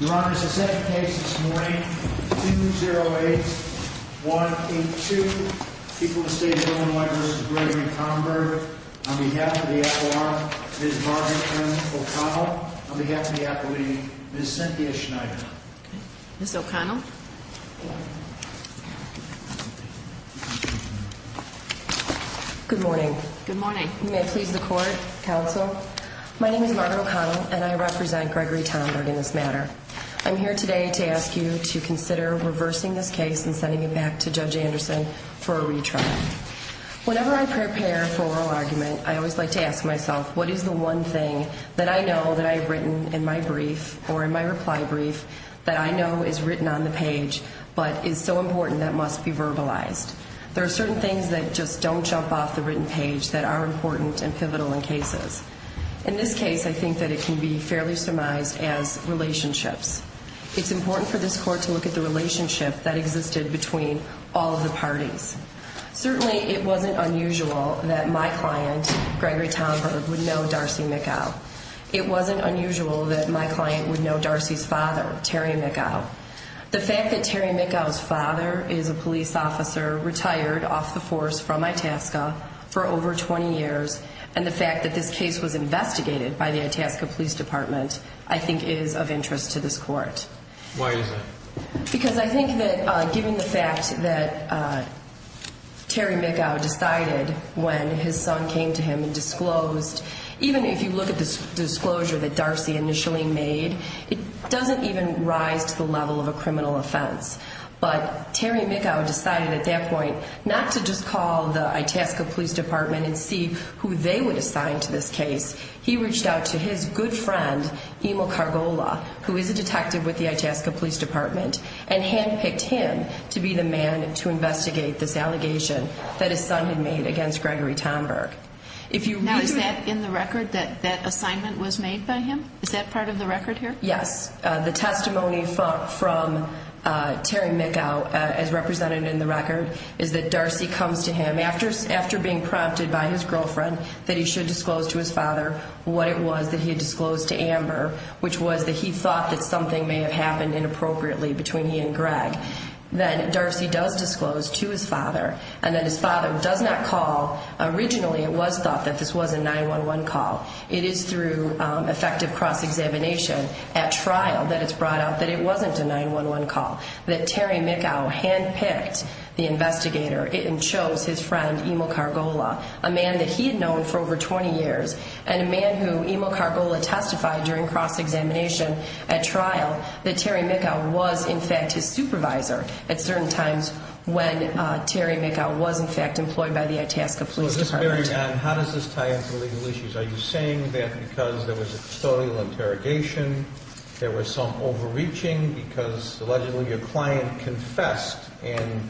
Your Honor, it's the second case this morning, 208-182, people of the state of Illinois v. Gregory Tomberg. On behalf of the F.R., Ms. Margaret Anne O'Connell. On behalf of the appellee, Ms. Cynthia Schneider. Ms. O'Connell. Good morning. You may please the court, counsel. My name is Margaret O'Connell and I represent Gregory Tomberg in this matter. I'm here today to ask you to consider reversing this case and sending it back to Judge Anderson for a retrial. Whenever I prepare for oral argument, I always like to ask myself, what is the one thing that I know that I've written in my brief or in my reply brief that I know is written on the page but is so important that must be verbalized? There are certain things that just don't jump off the written page that are important and pivotal in cases. In this case, I think that it can be fairly surmised as relationships. It's important for this court to look at the relationship that existed between all of the parties. Certainly, it wasn't unusual that my client, Gregory Tomberg, would know Darcy Mickow. It wasn't unusual that my client would know Darcy's father, Terry Mickow. The fact that Terry Mickow's father is a police officer, retired off the force from Itasca for over 20 years, and the fact that this case was investigated by the Itasca Police Department, I think is of interest to this court. Why is that? Because I think that given the fact that Terry Mickow decided when his son came to him and disclosed, even if you look at the disclosure that Darcy initially made, it doesn't even rise to the level of a criminal offense. But Terry Mickow decided at that point not to just call the Itasca Police Department and see who they would assign to this case. He reached out to his good friend, Emil Cargola, who is a detective with the Itasca Police Department, and handpicked him to be the man to investigate this allegation that his son had made against Gregory Tomberg. Now, is that in the record that that assignment was made by him? Is that part of the record here? Yes. The testimony from Terry Mickow, as represented in the record, is that Darcy comes to him after being prompted by his girlfriend that he should disclose to his father what it was that he had disclosed to Amber, which was that he thought that something may have happened inappropriately between he and Greg. Then Darcy does disclose to his father, and then his father does not call. Originally, it was thought that this was a 911 call. It is through effective cross-examination at trial that it's brought out that it wasn't a 911 call, that Terry Mickow handpicked the investigator and chose his friend, Emil Cargola, a man that he had known for over 20 years and a man who Emil Cargola testified during cross-examination at trial that Terry Mickow was, in fact, his supervisor. At certain times when Terry Mickow was, in fact, employed by the Itasca Police Department. How does this tie into legal issues? Are you saying that because there was a custodial interrogation, there was some overreaching because, allegedly, your client confessed, and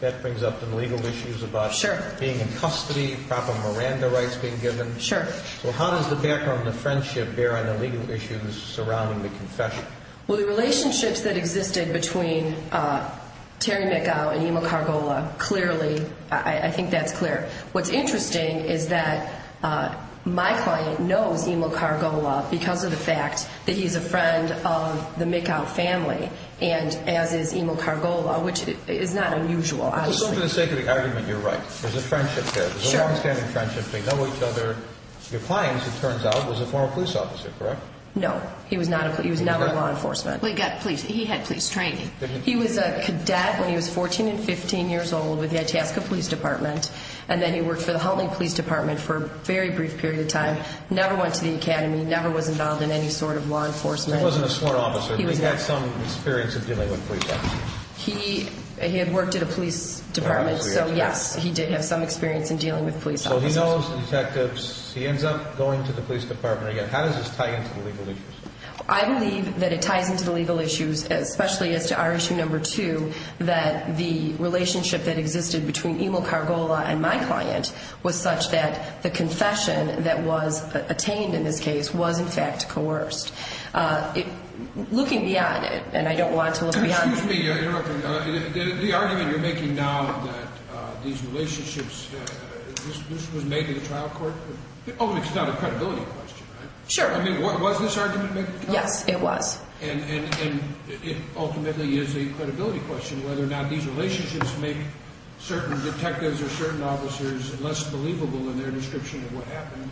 that brings up some legal issues about being in custody, proper Miranda rights being given? Sure. How does the background and the friendship bear on the legal issues surrounding the confession? Well, the relationships that existed between Terry Mickow and Emil Cargola, clearly, I think that's clear. What's interesting is that my client knows Emil Cargola because of the fact that he's a friend of the Mickow family, and as is Emil Cargola, which is not unusual, obviously. But for the sake of the argument, you're right. There's a friendship there. Sure. There's a long-standing friendship. They know each other. Your client, it turns out, was a former police officer, correct? No. He was never in law enforcement. He had police training. He was a cadet when he was 14 and 15 years old with the Itasca Police Department, and then he worked for the Hultman Police Department for a very brief period of time, never went to the academy, never was involved in any sort of law enforcement. He wasn't a sworn officer, but he had some experience of dealing with police officers. He had worked at a police department, so yes, he did have some experience in dealing with police officers. So he knows the detectives. He ends up going to the police department again. How does this tie into the legal issues? I believe that it ties into the legal issues, especially as to our issue number two, that the relationship that existed between Emil Cargola and my client was such that the confession that was attained in this case was, in fact, coerced. Looking beyond it, and I don't want to look beyond... Excuse me. The argument you're making now that these relationships, this was made in a trial court? Oh, it's not a credibility question, right? Sure. I mean, was this argument made? Yes, it was. And it ultimately is a credibility question, whether or not these relationships make certain detectives or certain officers less believable in their description of what happened.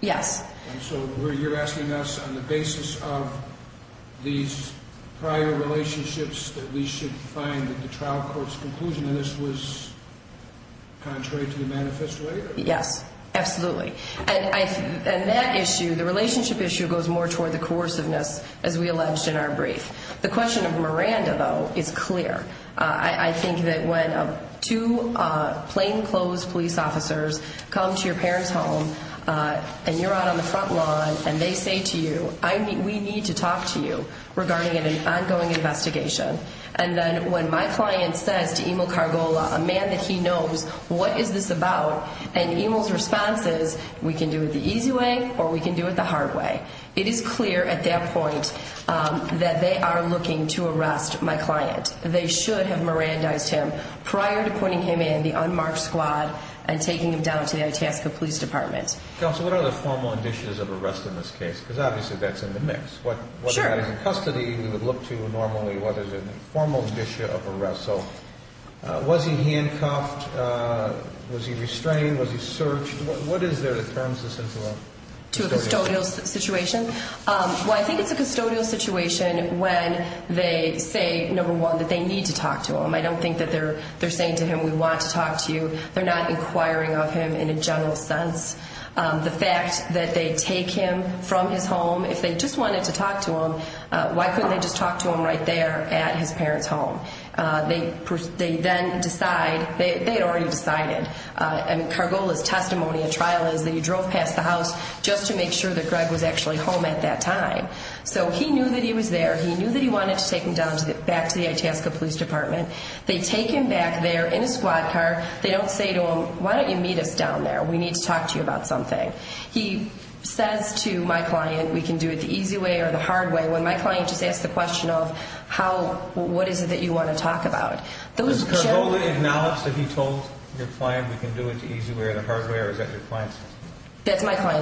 Yes. And so you're asking us, on the basis of these prior relationships, that we should find that the trial court's conclusion in this was contrary to the manifesto area? Yes, absolutely. And that issue, the relationship issue, goes more toward the coerciveness, as we alleged in our brief. The question of Miranda, though, is clear. I think that when two plainclothes police officers come to your parents' home, and you're out on the front lawn, and they say to you, we need to talk to you regarding an ongoing investigation, and then when my client says to Emil Cargola, a man that he knows, what is this about? And Emil's response is, we can do it the easy way, or we can do it the hard way. It is clear at that point that they are looking to arrest my client. They should have Mirandized him prior to putting him in the unmarked squad and taking him down to the Itasca Police Department. Counsel, what are the formal conditions of arrest in this case? Because, obviously, that's in the mix. Whether that is in custody, we would look to, normally, whether there's a formal condition of arrest. So, was he handcuffed? Was he restrained? Was he searched? What is there that turns this into a custodial situation? The fact that they take him from his home, if they just wanted to talk to him, why couldn't they just talk to him right there at his parents' home? They then decide, they had already decided, and Cargola's testimony at trial is that he drove past the house just to make sure that Greg was actually home at that time. So, he knew that he was there. He knew that he wanted to take him down back to the Itasca Police Department. They take him back there in a squad car. They don't say to him, why don't you meet us down there? We need to talk to you about something. He says to my client, we can do it the easy way or the hard way, when my client just asked the question of, what is it that you want to talk about? Does Cargola acknowledge that he told your client, we can do it the easy way or the hard way, or is that your client's testimony? They then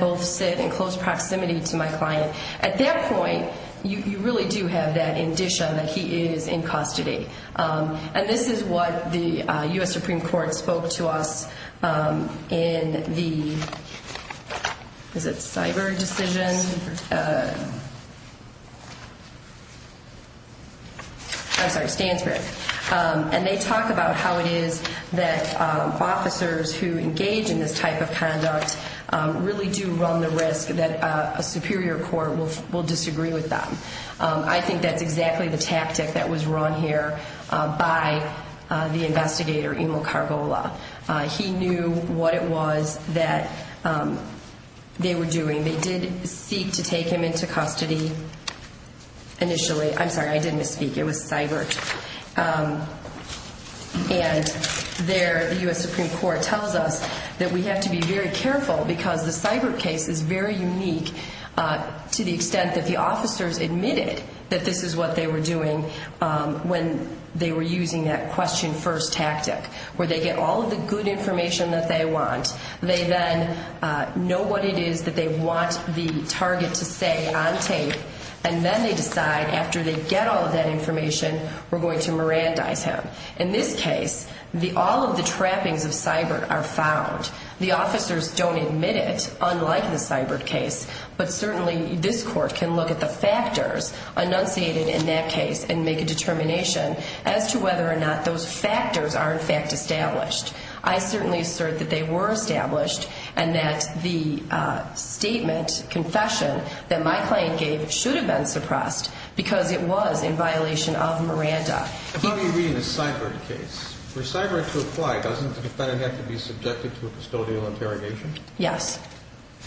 both sit in close proximity to my client. At that point, you really do have that indicia that he is in custody. And this is what the U.S. Supreme Court spoke to us in the, is it Cyber Decision? I'm sorry, Stansberg. And they talk about how it is that officers who engage in this type of conduct really do run the risk that a superior court will disagree with them. I think that's exactly the tactic that was run here by the investigator, Emil Cargola. He knew what it was that they were doing. They did seek to take him into custody initially. I'm sorry, I did misspeak. It was cyber. And there, the U.S. Supreme Court tells us that we have to be very careful because the cyber case is very unique to the extent that the officers admitted that this is what they were doing when they were using that question first tactic. Where they get all of the good information that they want. They then know what it is that they want the target to say on tape. And then they decide, after they get all of that information, we're going to Mirandize him. In this case, all of the trappings of cyber are found. The officers don't admit it, unlike the cyber case. But certainly this court can look at the factors enunciated in that case and make a determination as to whether or not those factors are in fact established. I certainly assert that they were established and that the statement, confession, that my client gave should have been suppressed because it was in violation of Miranda. I thought you were reading a cyber case. For cyber to apply, doesn't the defendant have to be subjected to a custodial interrogation? Yes.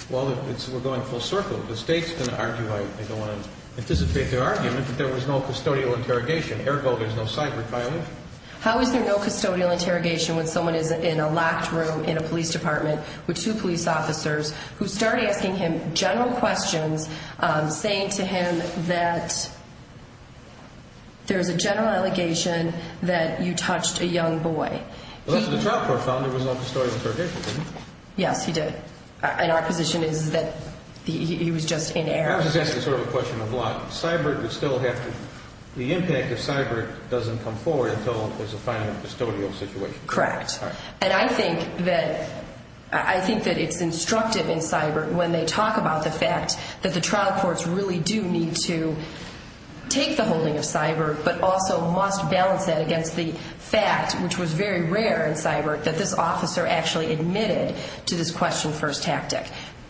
Well, we're going full circle. The state's going to argue, I don't want to anticipate their argument, that there was no custodial interrogation. Ergo, there's no cyber violation. How is there no custodial interrogation when someone is in a locked room in a police department with two police officers who start asking him general questions, saying to him that there's a general allegation that you touched a young boy. Unless the trial court found there was no custodial interrogation, didn't it? Yes, he did. And our position is that he was just in error. I was just asking sort of a question of lock. The impact of cyber doesn't come forward until there's a final custodial situation. Correct. And I think that it's instructive in cyber when they talk about the fact that the trial courts really do need to take the holding of cyber, but also must balance that against the fact, which was very rare in cyber, that this officer actually admitted to this question first tactic.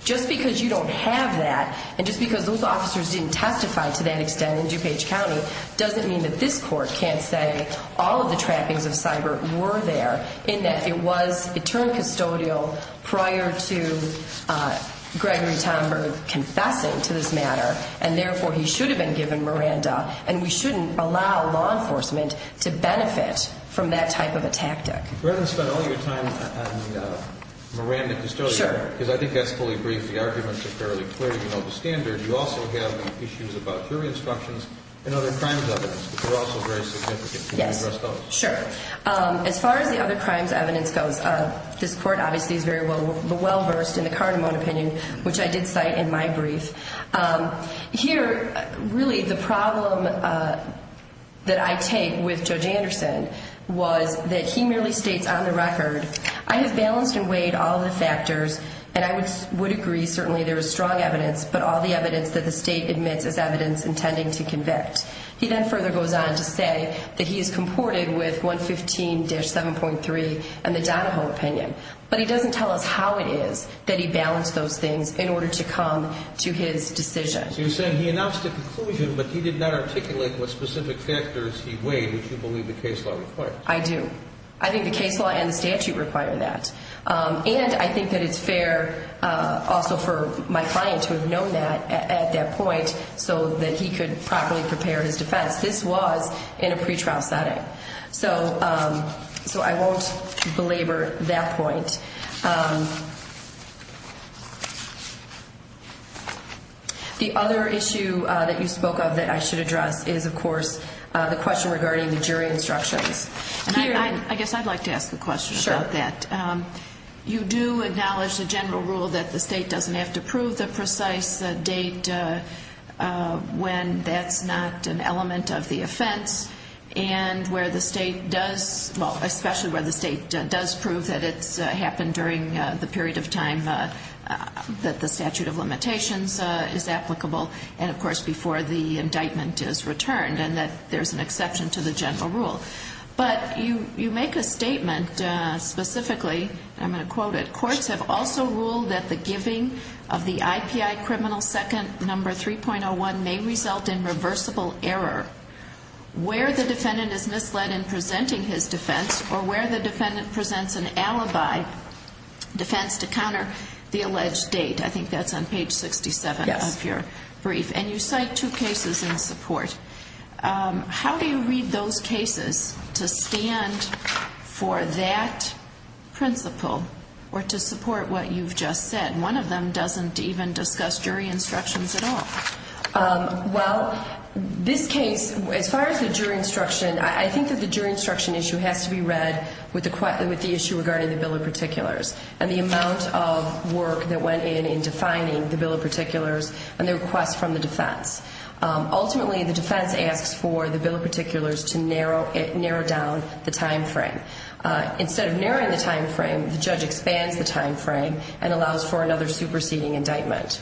Just because you don't have that, and just because those officers didn't testify to that extent in DuPage County, doesn't mean that this court can't say all of the trappings of cyber were there, in that it was, it turned custodial prior to Gregory Tomberg confessing to this matter, and therefore he should have been given Miranda, and we shouldn't allow law enforcement to benefit from that type of a tactic. Rather than spend all your time on the Miranda custodial matter, because I think that's fully brief, the arguments are fairly clear, you know, the standard, you also have issues about jury instructions and other crimes evidence, which are also very significant. Yes, sure. As far as the other crimes evidence goes, this court obviously is very well versed in the Cardamone opinion, which I did cite in my brief. Here, really, the problem that I take with Judge Anderson was that he merely states on the record, I have balanced and weighed all the factors, and I would agree, certainly there is strong evidence, but all the evidence that the state admits is evidence intending to convict. He then further goes on to say that he is comported with 115-7.3 and the Donahoe opinion, but he doesn't tell us how it is that he balanced those things in order to come to his decision. So you're saying he announced a conclusion, but he did not articulate what specific factors he weighed, which you believe the case law requires. I do. I think the case law and the statute require that. And I think that it's fair also for my client to have known that at that point so that he could properly prepare his defense. This was in a pretrial setting. So I won't belabor that point. The other issue that you spoke of that I should address is, of course, the question regarding the jury instructions. I guess I'd like to ask a question about that. Sure. You do acknowledge the general rule that the state doesn't have to prove the precise date when that's not an element of the offense, and where the state does, well, especially where the state does prove that it's happened during the period of time that the statute of limitations is applicable, and, of course, before the indictment is returned, and that there's an exception to the general rule. But you make a statement specifically, and I'm going to quote it. Courts have also ruled that the giving of the IPI criminal second number 3.01 may result in reversible error where the defendant is misled in presenting his defense or where the defendant presents an alibi defense to counter the alleged date. I think that's on page 67 of your brief. Yes. And you cite two cases in support. How do you read those cases to stand for that principle or to support what you've just said? One of them doesn't even discuss jury instructions at all. Well, this case, as far as the jury instruction, I think that the jury instruction issue has to be read with the issue regarding the bill of particulars and the amount of work that went in in defining the bill of particulars and the request from the defense. Ultimately, the defense asks for the bill of particulars to narrow down the time frame. Instead of narrowing the time frame, the judge expands the time frame and allows for another superseding indictment.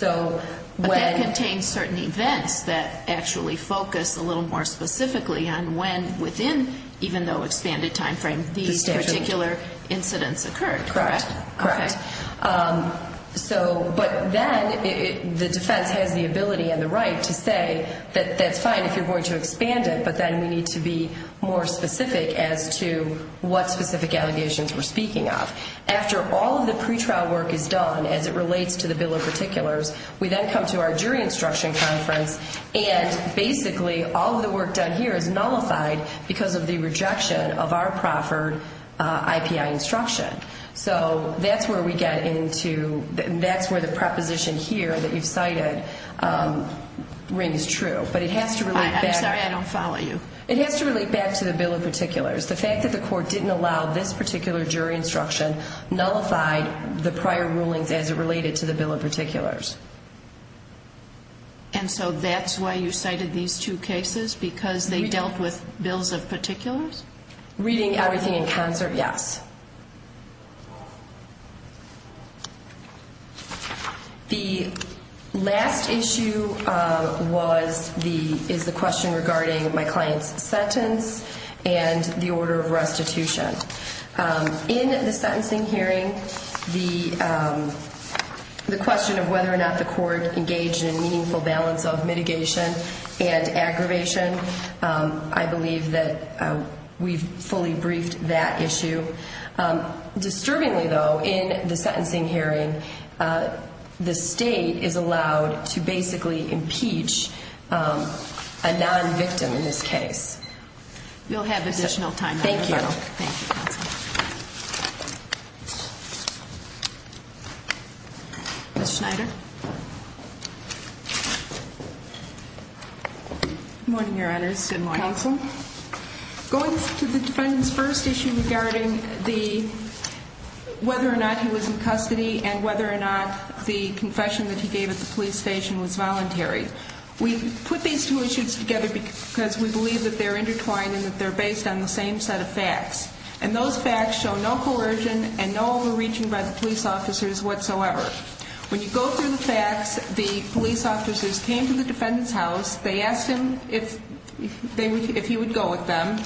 But that contains certain events that actually focus a little more specifically on when within, even though expanded time frame, these particular incidents occurred, correct? Correct. But then the defense has the ability and the right to say that that's fine if you're going to expand it, but then we need to be more specific as to what specific allegations we're speaking of. After all of the pretrial work is done as it relates to the bill of particulars, we then come to our jury instruction conference and basically all of the work done here is nullified because of the rejection of our proffered IPI instruction. So that's where we get into, that's where the proposition here that you've cited rings true. I'm sorry, I don't follow you. It has to relate back to the bill of particulars. The fact that the court didn't allow this particular jury instruction nullified the prior rulings as it related to the bill of particulars. And so that's why you cited these two cases, because they dealt with bills of particulars? Reading everything in concert, yes. The last issue is the question regarding my client's sentence and the order of restitution. In the sentencing hearing, the question of whether or not the court engaged in a meaningful balance of mitigation and aggravation, I believe that we've fully briefed that issue. Disturbingly, though, in the sentencing hearing, the state is allowed to basically impeach a non-victim in this case. You'll have additional time. Thank you. Thank you, counsel. Ms. Schneider. Good morning, Your Honors. Good morning. Counsel. Going to the defendant's first issue regarding whether or not he was in custody and whether or not the confession that he gave at the police station was voluntary. We put these two issues together because we believe that they're intertwined and that they're based on the same set of facts. And those facts show no coercion and no overreaching by the police officers whatsoever. When you go through the facts, the police officers came to the defendant's house. They asked him if he would go with them.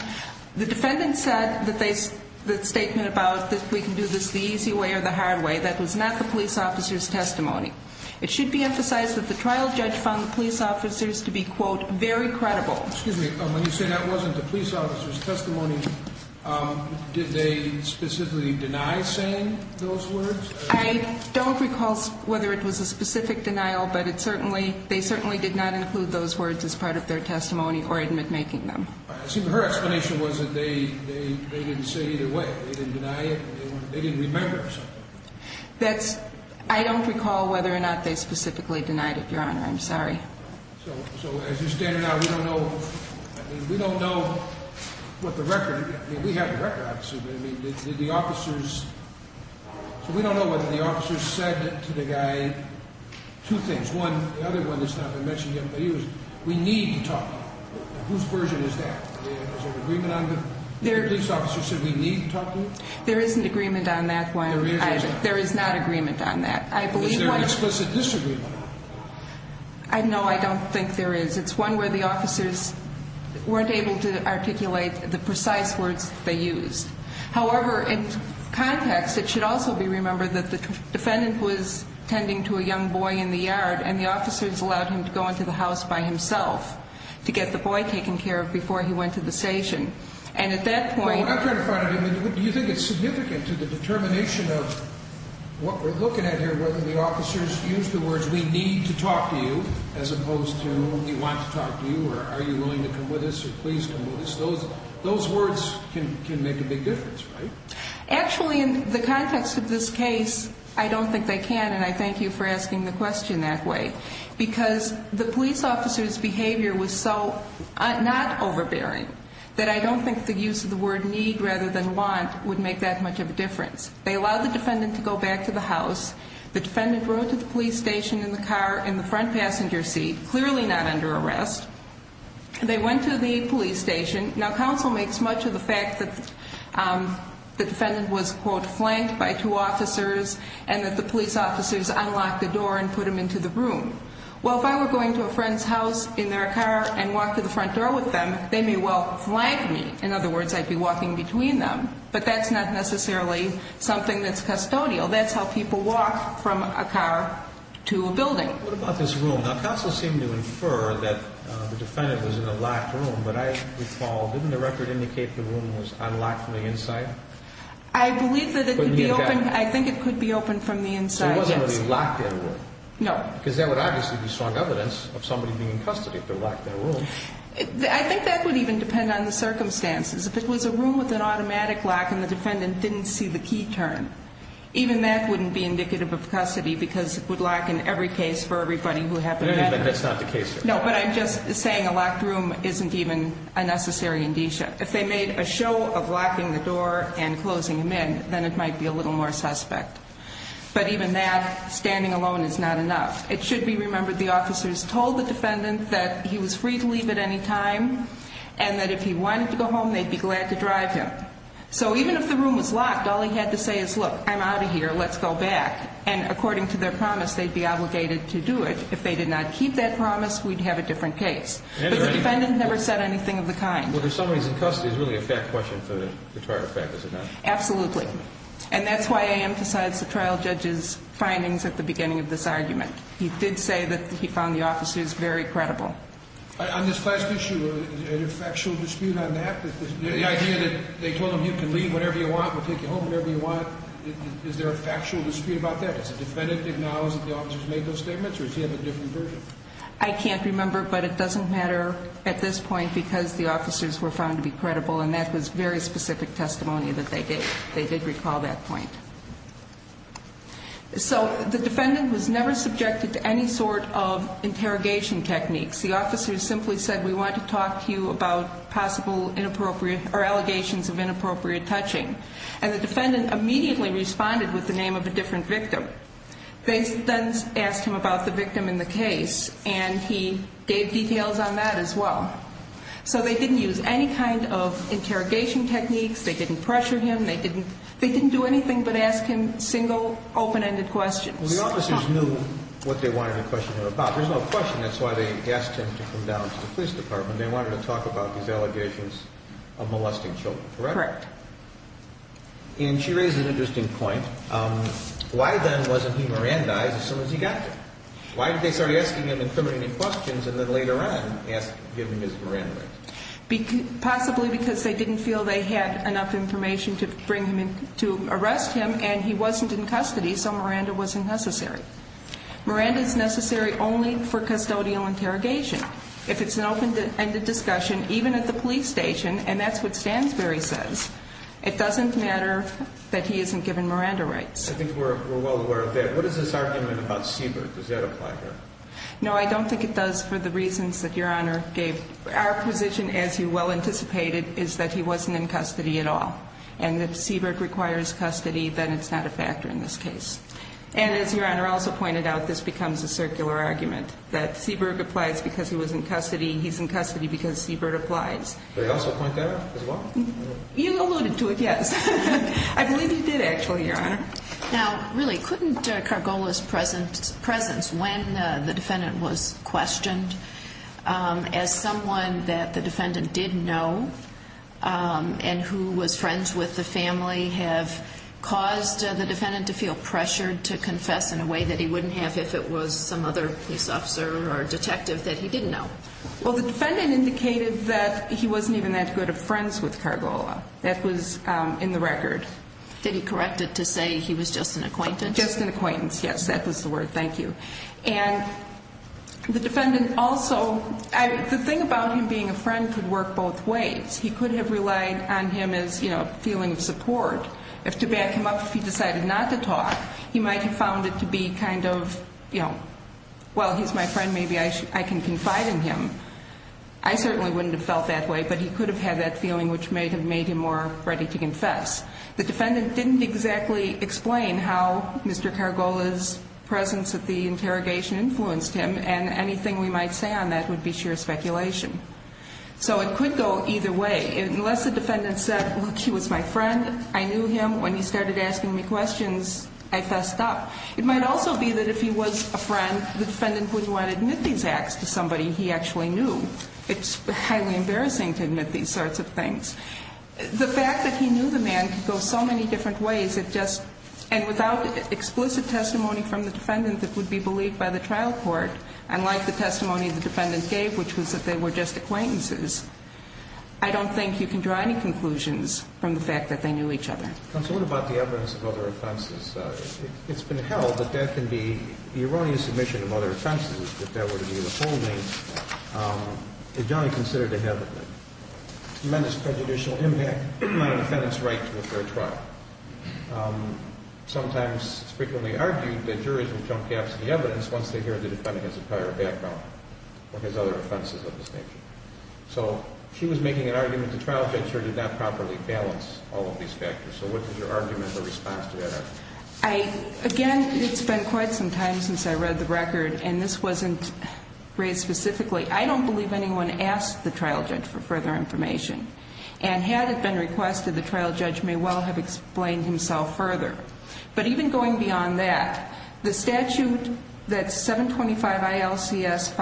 The defendant said the statement about we can do this the easy way or the hard way, that was not the police officer's testimony. It should be emphasized that the trial judge found the police officers to be, quote, very credible. Excuse me. When you say that wasn't the police officer's testimony, did they specifically deny saying those words? I don't recall whether it was a specific denial, but they certainly did not include those words as part of their testimony or admit making them. Her explanation was that they didn't say either way. They didn't deny it. They didn't remember or something. I don't recall whether or not they specifically denied it, Your Honor. I'm sorry. So as you're standing now, we don't know, I mean, we don't know what the record, I mean, we have the record, obviously, but I mean, did the officers, so we don't know what the officers said to the guy. Two things. One, the other one that's not been mentioned yet by you is we need to talk. Whose version is that? Is there an agreement on that? The police officer said we need to talk to him? There is an agreement on that one. There is or is not? There is not agreement on that. Is there an explicit disagreement? No, I don't think there is. It's one where the officers weren't able to articulate the precise words that they used. However, in context, it should also be remembered that the defendant was tending to a young boy in the yard, and the officers allowed him to go into the house by himself to get the boy taken care of before he went to the station. Well, I'm trying to find out, do you think it's significant to the determination of what we're looking at here, whether the officers used the words we need to talk to you as opposed to we want to talk to you or are you willing to come with us or please come with us? Those words can make a big difference, right? Actually, in the context of this case, I don't think they can, and I thank you for asking the question that way, because the police officer's behavior was so not overbearing that I don't think the use of the word need rather than want would make that much of a difference. They allowed the defendant to go back to the house. The defendant rode to the police station in the car in the front passenger seat, clearly not under arrest. They went to the police station. Now, counsel makes much of the fact that the defendant was, quote, flanked by two officers and that the police officers unlocked the door and put him into the room. Well, if I were going to a friend's house in their car and walked to the front door with them, they may well flank me. In other words, I'd be walking between them, but that's not necessarily something that's custodial. That's how people walk from a car to a building. What about this room? Now, counsel seemed to infer that the defendant was in a locked room, but I recall, didn't the record indicate the room was unlocked from the inside? I believe that it could be open. I think it could be open from the inside, yes. So it wasn't really locked in a room? No. Because that would obviously be strong evidence of somebody being in custody if they're locked in a room. I think that would even depend on the circumstances. If it was a room with an automatic lock and the defendant didn't see the key turn, even that wouldn't be indicative of custody because it would lock in every case for everybody who happened in that room. That's not the case here. No, but I'm just saying a locked room isn't even a necessary indicia. If they made a show of locking the door and closing him in, then it might be a little more suspect. But even that, standing alone is not enough. It should be remembered the officers told the defendant that he was free to leave at any time and that if he wanted to go home, they'd be glad to drive him. So even if the room was locked, all he had to say is, look, I'm out of here, let's go back. And according to their promise, they'd be obligated to do it. If they did not keep that promise, we'd have a different case. But the defendant never said anything of the kind. Well, if somebody's in custody, it's really a fact question for the trial judge, is it not? Absolutely. And that's why I emphasized the trial judge's findings at the beginning of this argument. He did say that he found the officers very credible. On this last issue, is there a factual dispute on that? The idea that they told him, you can leave whenever you want, we'll take you home whenever you want. Is there a factual dispute about that? Does the defendant acknowledge that the officers made those statements, or does he have a different version? I can't remember, but it doesn't matter at this point because the officers were found to be credible, and that was very specific testimony that they gave. They did recall that point. So the defendant was never subjected to any sort of interrogation techniques. The officer simply said, we want to talk to you about possible allegations of inappropriate touching. And the defendant immediately responded with the name of a different victim. They then asked him about the victim in the case, and he gave details on that as well. So they didn't use any kind of interrogation techniques. They didn't pressure him. They didn't do anything but ask him single, open-ended questions. Well, the officers knew what they wanted to question him about. There's no question that's why they asked him to come down to the police department. They wanted to talk about these allegations of molesting children, correct? Correct. And she raises an interesting point. Why then wasn't he Mirandized as soon as he got there? Why did they start asking him incriminating questions and then later on give him his Miranda rights? Possibly because they didn't feel they had enough information to arrest him, and he wasn't in custody, so Miranda wasn't necessary. Miranda is necessary only for custodial interrogation. If it's an open-ended discussion, even at the police station, and that's what Stansberry says, it doesn't matter that he isn't given Miranda rights. I think we're well aware of that. What is this argument about Seberg? Does that apply here? No, I don't think it does for the reasons that Your Honor gave. Our position, as you well anticipated, is that he wasn't in custody at all. And if Seberg requires custody, then it's not a factor in this case. And as Your Honor also pointed out, this becomes a circular argument, that Seberg applies because he was in custody, he's in custody because Seberg applies. Did I also point that out as well? You alluded to it, yes. I believe you did, actually, Your Honor. Now, really, couldn't Cargola's presence when the defendant was questioned, as someone that the defendant did know and who was friends with the family, have caused the defendant to feel pressured to confess in a way that he wouldn't have if it was some other police officer or detective that he didn't know? Well, the defendant indicated that he wasn't even that good of friends with Cargola. That was in the record. Did he correct it to say he was just an acquaintance? Just an acquaintance, yes. That was the word. Thank you. And the defendant also, the thing about him being a friend could work both ways. He could have relied on him as a feeling of support. If to back him up, if he decided not to talk, he might have found it to be kind of, you know, well, he's my friend, maybe I can confide in him. I certainly wouldn't have felt that way, but he could have had that feeling which may have made him more ready to confess. The defendant didn't exactly explain how Mr. Cargola's presence at the interrogation influenced him, and anything we might say on that would be sheer speculation. So it could go either way. Unless the defendant said, look, he was my friend, I knew him. When he started asking me questions, I fessed up. It might also be that if he was a friend, the defendant wouldn't want to admit these acts to somebody he actually knew. It's highly embarrassing to admit these sorts of things. The fact that he knew the man could go so many different ways, and without explicit testimony from the defendant that would be believed by the trial court, unlike the testimony the defendant gave, which was that they were just acquaintances. I don't think you can draw any conclusions from the fact that they knew each other. Counsel, what about the evidence of other offenses? It's been held that that can be the erroneous admission of other offenses, that that would be withholding. It's generally considered to have a tremendous prejudicial impact on a defendant's right to a fair trial. Sometimes it's frequently argued that jurors will jump caps to the evidence once they hear the defendant has a prior background or has other offenses of this nature. So she was making an argument the trial judge juror did not properly balance all of these factors. So what is your argument or response to that argument? Again, it's been quite some time since I read the record, and this wasn't raised specifically. I don't believe anyone asked the trial judge for further information. And had it been requested, the trial judge may well have explained himself further. But even going beyond that, the statute that's 725 ILCS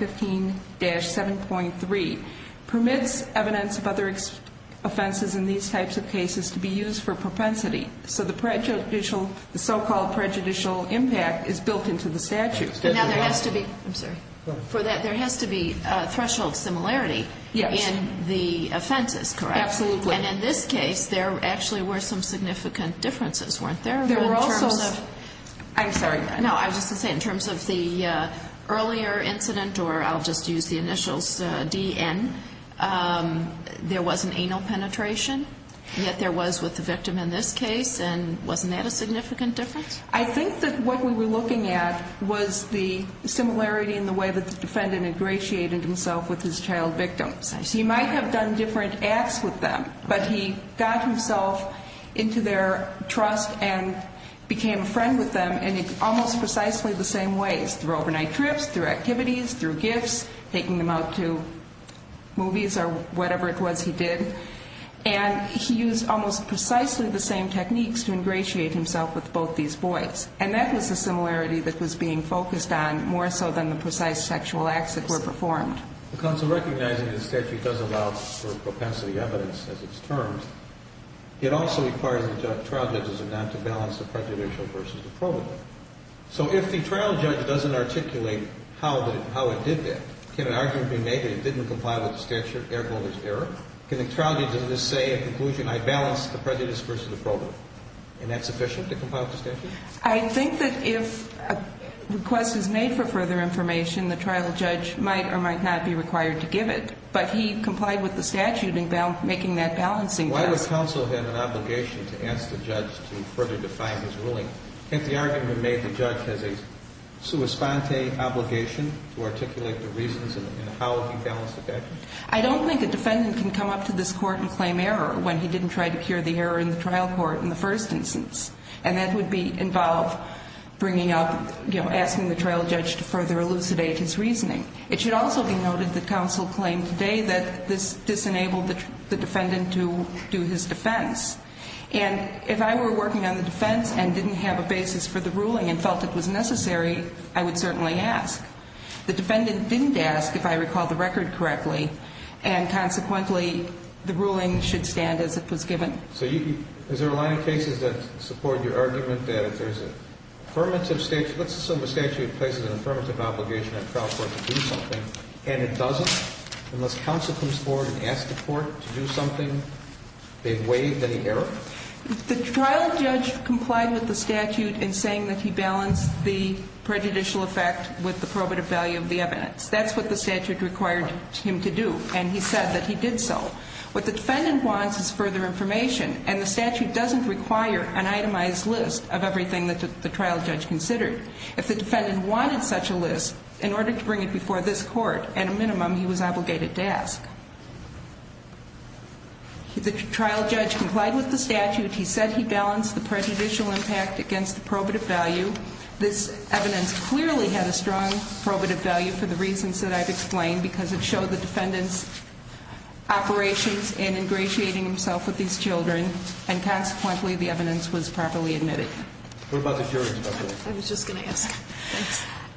5-515-7.3 permits evidence of other offenses in these types of cases to be used for propensity. So the prejudicial, the so-called prejudicial impact is built into the statute. Now, there has to be, I'm sorry, for that there has to be threshold similarity in the offenses, correct? Absolutely. And in this case, there actually were some significant differences, weren't there? There were also. I'm sorry. No, I was just going to say in terms of the earlier incident, or I'll just use the initials DN, there was an anal penetration, yet there was with the victim in this case, and wasn't that a significant difference? I think that what we were looking at was the similarity in the way that the defendant ingratiated himself with his child victim. I see. So he might have done different acts with them, but he got himself into their trust and became a friend with them in almost precisely the same ways, through overnight trips, through activities, through gifts, taking them out to movies or whatever it was he did. And he used almost precisely the same techniques to ingratiate himself with both these boys. And that was the similarity that was being focused on, more so than the precise sexual acts that were performed. Counsel, recognizing the statute does allow for propensity evidence as its terms, it also requires the trial judges not to balance the prejudicial versus the probable. So if the trial judge doesn't articulate how it did that, can an argument be made that it didn't comply with the statute, error, can the trial judge in this say in conclusion, I balanced the prejudiced versus the probable, and that's sufficient to comply with the statute? I think that if a request is made for further information, the trial judge might or might not be required to give it. But he complied with the statute in making that balancing test. Why would counsel have an obligation to ask the judge to further define his ruling? If the argument made the judge has a sua sponte obligation to articulate the reasons and how he balanced the factors? I don't think a defendant can come up to this court and claim error when he didn't try to cure the error in the trial court in the first instance. And that would be involve bringing up, you know, asking the trial judge to further elucidate his reasoning. It should also be noted that counsel claimed today that this disenabled the defendant to do his defense. And if I were working on the defense and didn't have a basis for the ruling and felt it was necessary, I would certainly ask. The defendant didn't ask if I recall the record correctly, and consequently the ruling should stand as it was given. So you can – is there a line of cases that support your argument that if there's an affirmative – let's assume a statute places an affirmative obligation on the trial court to do something, and it doesn't, unless counsel comes forward and asks the court to do something, they waive any error? The trial judge complied with the statute in saying that he balanced the prejudicial effect with the probative value of the evidence. That's what the statute required him to do, and he said that he did so. What the defendant wants is further information, and the statute doesn't require an itemized list of everything that the trial judge considered. If the defendant wanted such a list, in order to bring it before this court, at a minimum he was obligated to ask. The trial judge complied with the statute. He said he balanced the prejudicial impact against the probative value. This evidence clearly had a strong probative value for the reasons that I've explained because it showed the defendant's operations in ingratiating himself with these children, and consequently the evidence was properly admitted. What about the jury, Judge? I was just going to ask.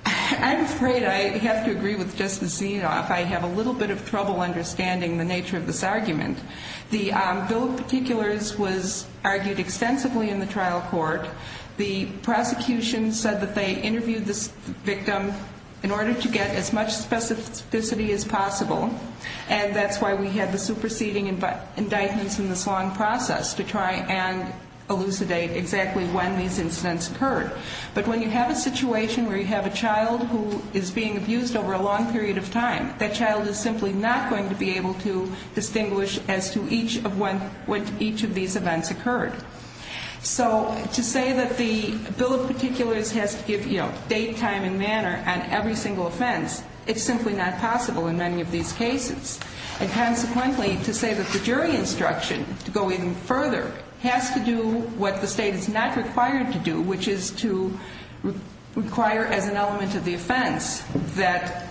I'm afraid I have to agree with Justice Zinoff. I have a little bit of trouble understanding the nature of this argument. The bill of particulars was argued extensively in the trial court. The prosecution said that they interviewed this victim in order to get as much specificity as possible, and that's why we had the superseding indictments in this long process to try and elucidate exactly when these incidents occurred. But when you have a situation where you have a child who is being abused over a long period of time, that child is simply not going to be able to distinguish as to when each of these events occurred. So to say that the bill of particulars has to give date, time, and manner on every single offense, it's simply not possible in many of these cases. And consequently, to say that the jury instruction, to go even further, has to do what the State is not required to do, which is to require as an element of the offense that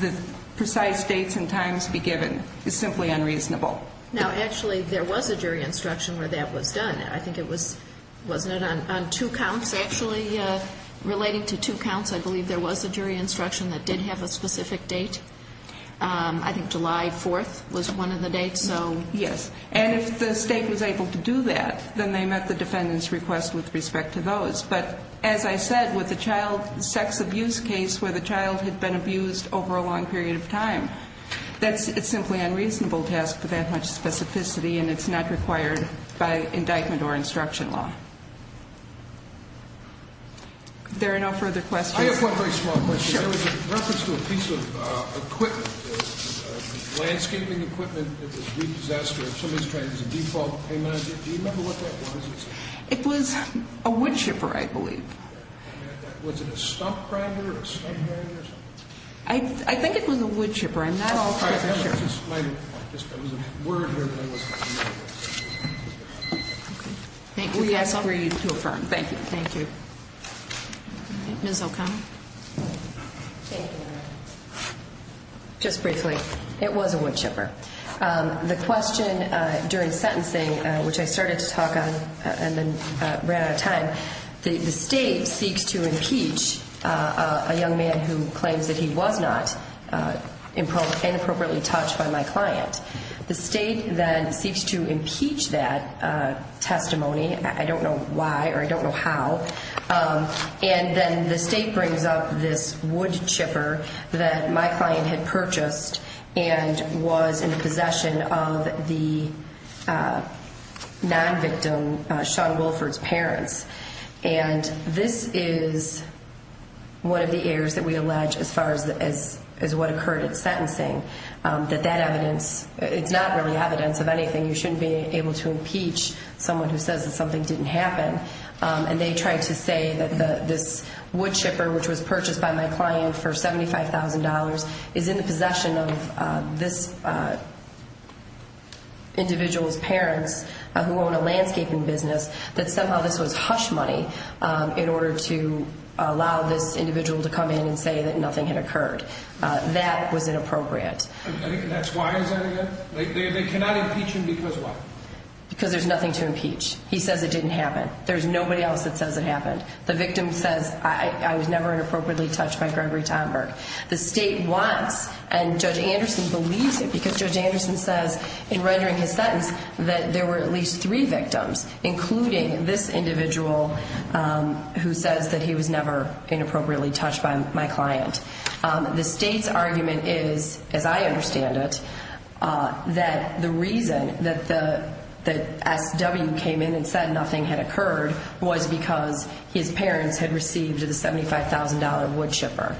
the precise dates and times be given, is simply unreasonable. Now, actually, there was a jury instruction where that was done. I think it was, wasn't it, on two counts, actually? Relating to two counts, I believe there was a jury instruction that did have a specific date. I think July 4th was one of the dates. Yes. And if the State was able to do that, then they met the defendant's request with respect to those. But as I said, with a child sex abuse case where the child had been abused over a long period of time, it's simply unreasonable to ask for that much specificity, and it's not required by indictment or instruction law. If there are no further questions. I have one very small question. Sure. There was a reference to a piece of equipment, landscaping equipment that was repossessed or somebody was trying to use a default payment on it. Do you remember what that was? It was a wood chipper, I believe. Was it a stump grinder or a stump grinder or something? I think it was a wood chipper. I'm not all that sure. There was a word there that I wasn't familiar with. We agree to affirm. Thank you. Thank you. Ms. O'Connell. Thank you. Just briefly, it was a wood chipper. The question during sentencing, which I started to talk on and then ran out of time, the state seeks to impeach a young man who claims that he was not inappropriately touched by my client. The state then seeks to impeach that testimony. I don't know why or I don't know how. And then the state brings up this wood chipper that my client had purchased and was in possession of the non-victim, Sean Wilford's parents. And this is one of the errors that we allege as far as what occurred at sentencing, that that evidence, it's not really evidence of anything. You shouldn't be able to impeach someone who says that something didn't happen. And they tried to say that this wood chipper, which was purchased by my client for $75,000, is in the possession of this individual's parents who own a landscaping business, that somehow this was hush money in order to allow this individual to come in and say that nothing had occurred. That was inappropriate. And that's why is that a error? They cannot impeach him because of what? Because there's nothing to impeach. He says it didn't happen. There's nobody else that says it happened. The victim says I was never inappropriately touched by Gregory Tomberg. The state wants, and Judge Anderson believes it because Judge Anderson says in rendering his sentence that there were at least three victims, including this individual who says that he was never inappropriately touched by my client. The state's argument is, as I understand it, that the reason that the SW came in and said nothing had occurred was because his parents had received the $75,000 wood chipper.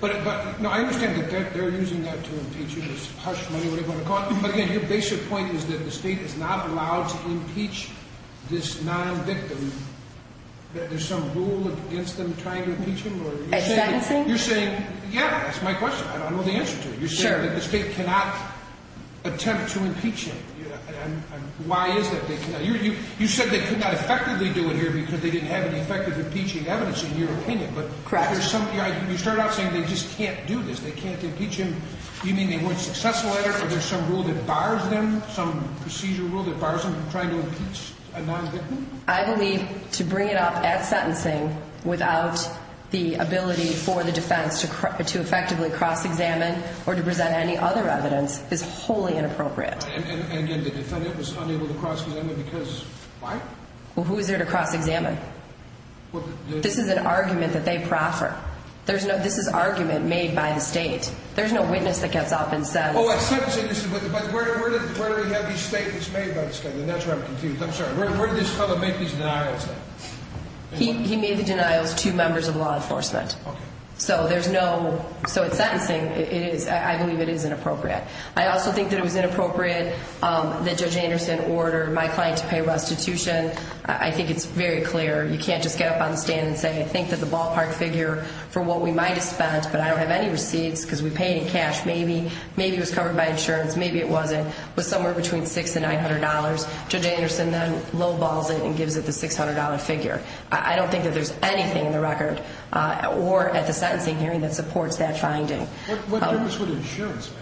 But I understand that they're using that to impeach him, this hush money, whatever you want to call it. But again, your basic point is that the state is not allowed to impeach this non-victim. That there's some rule against them trying to impeach him? A sentencing? You're saying, yeah, that's my question. I don't know the answer to it. You're saying that the state cannot attempt to impeach him. Why is that they cannot? You said they could not effectively do it here because they didn't have any effective impeaching evidence in your opinion. Correct. You started out saying they just can't do this. They can't impeach him. You mean they weren't successful at it or there's some rule that bars them, some procedure rule that bars them from trying to impeach a non-victim? I believe to bring it up at sentencing without the ability for the defense to effectively cross-examine or to present any other evidence is wholly inappropriate. And again, the defendant was unable to cross-examine because why? Well, who is there to cross-examine? This is an argument that they proffer. This is argument made by the state. There's no witness that gets up and says... But where do we have these statements made by the state? And that's where I'm confused. I'm sorry. Where did this fellow make these denials then? He made the denials to members of law enforcement. So there's no... So at sentencing, I believe it is inappropriate. I also think that it was inappropriate that Judge Anderson ordered my client to pay restitution. I think it's very clear. You can't just get up on the stand and say I think that the ballpark figure for what we might have spent, but I don't have any receipts because we paid in cash, maybe, maybe it was covered by insurance, maybe it wasn't. It was somewhere between $600 and $900. Judge Anderson then low-balls it and gives it the $600 figure. I don't think that there's anything in the record or at the sentencing hearing that supports that finding. What difference would insurance make?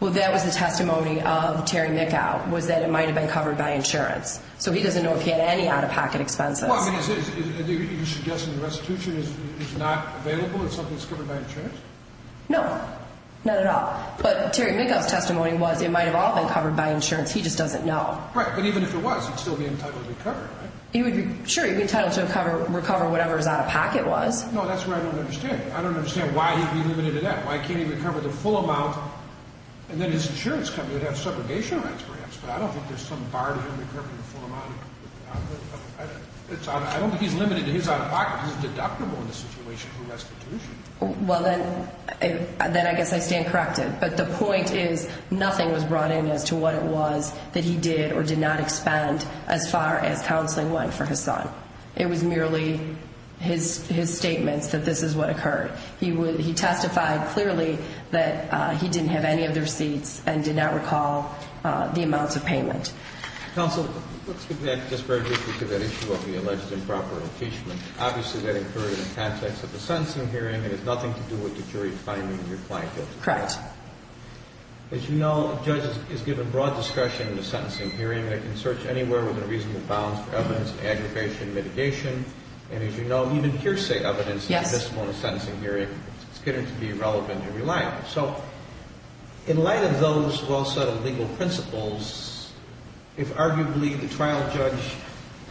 Well, that was the testimony of Terry Mickow was that it might have been covered by insurance. So he doesn't know if he had any out-of-pocket expenses. Well, I mean, you're suggesting restitution is not available? It's something that's covered by insurance? No, not at all. But Terry Mickow's testimony was it might have all been covered by insurance. He just doesn't know. Right, but even if it was, he'd still be entitled to recover, right? Sure, he'd be entitled to recover whatever his out-of-pocket was. No, that's what I don't understand. I don't understand why he'd be limited to that. Why can't he recover the full amount and then his insurance company would have segregation rights perhaps, but I don't think there's some bar to him recovering the full amount. I don't think he's limited to his out-of-pocket because it's deductible in this situation for restitution. Well, then I guess I stand corrected. But the point is nothing was brought in as to what it was that he did or did not expend as far as counseling went for his son. It was merely his statements that this is what occurred. He testified clearly that he didn't have any of the receipts and did not recall the amounts of payment. Counsel, let's get back just very briefly to that issue of the alleged improper impeachment. Obviously, that occurred in the context of the sentencing hearing. It has nothing to do with the jury finding your client guilty. Correct. As you know, a judge is given broad discretion in a sentencing hearing. They can search anywhere within a reasonable bounds for evidence of aggravation, mitigation, and as you know, even hearsay evidence is a discipline in a sentencing hearing. It's considered to be irrelevant in real life. So in light of those well-settled legal principles, if arguably the trial judge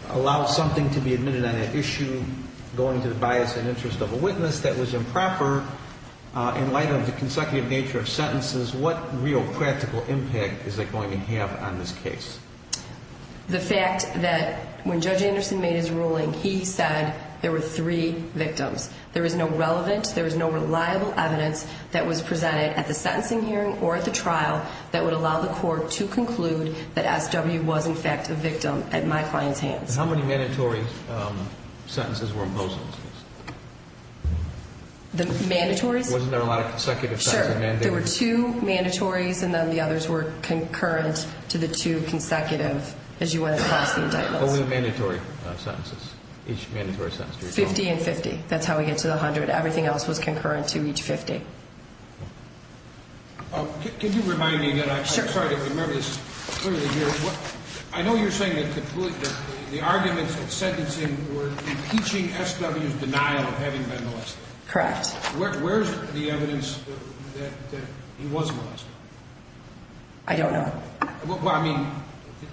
allows something to be admitted on an issue going to the bias and interest of a witness that was improper, in light of the consecutive nature of sentences, what real practical impact is that going to have on this case? The fact that when Judge Anderson made his ruling, he said there were three victims. There is no relevant, there is no reliable evidence that was presented at the sentencing hearing or at the trial that would allow the court to conclude that S.W. was in fact a victim at my client's hands. How many mandatory sentences were imposed on this case? The mandatories? Wasn't there a lot of consecutive sentences? Sure. There were two mandatories and then the others were concurrent to the two consecutive as you went across the indictments. What were the mandatory sentences, each mandatory sentence? Fifty and fifty. That's how we get to the hundred. Everything else was concurrent to each fifty. Can you remind me again? Sure. I know you're saying that the arguments at sentencing were impeaching S.W.'s denial of having been molested. Correct. Where's the evidence that he was molested? I don't know. Well, I mean,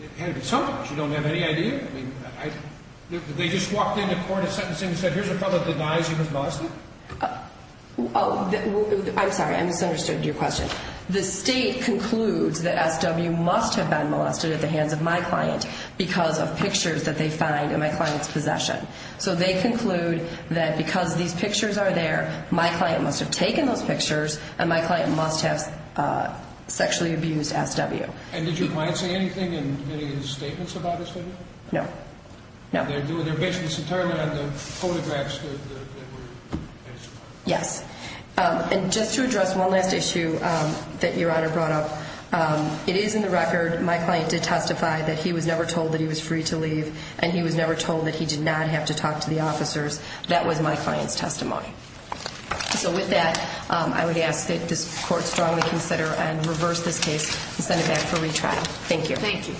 it had to be something. You don't have any idea? They just walked into court at sentencing and said, here's a fellow that denies he was molested? I'm sorry, I misunderstood your question. The state concludes that S.W. must have been molested at the hands of my client because of pictures that they find in my client's possession. So they conclude that because these pictures are there, my client must have taken those pictures and my client must have sexually abused S.W. And did your client say anything in any of his statements about S.W.? No. No. They're basing this entirely on the photographs that were passed around? Yes. And just to address one last issue that Your Honor brought up, it is in the record my client did testify that he was never told that he was free to leave and he was never told that he did not have to talk to the officers. That was my client's testimony. So with that, I would ask that this Court strongly consider and reverse this case and send it back for retrial. Thank you. Thank you.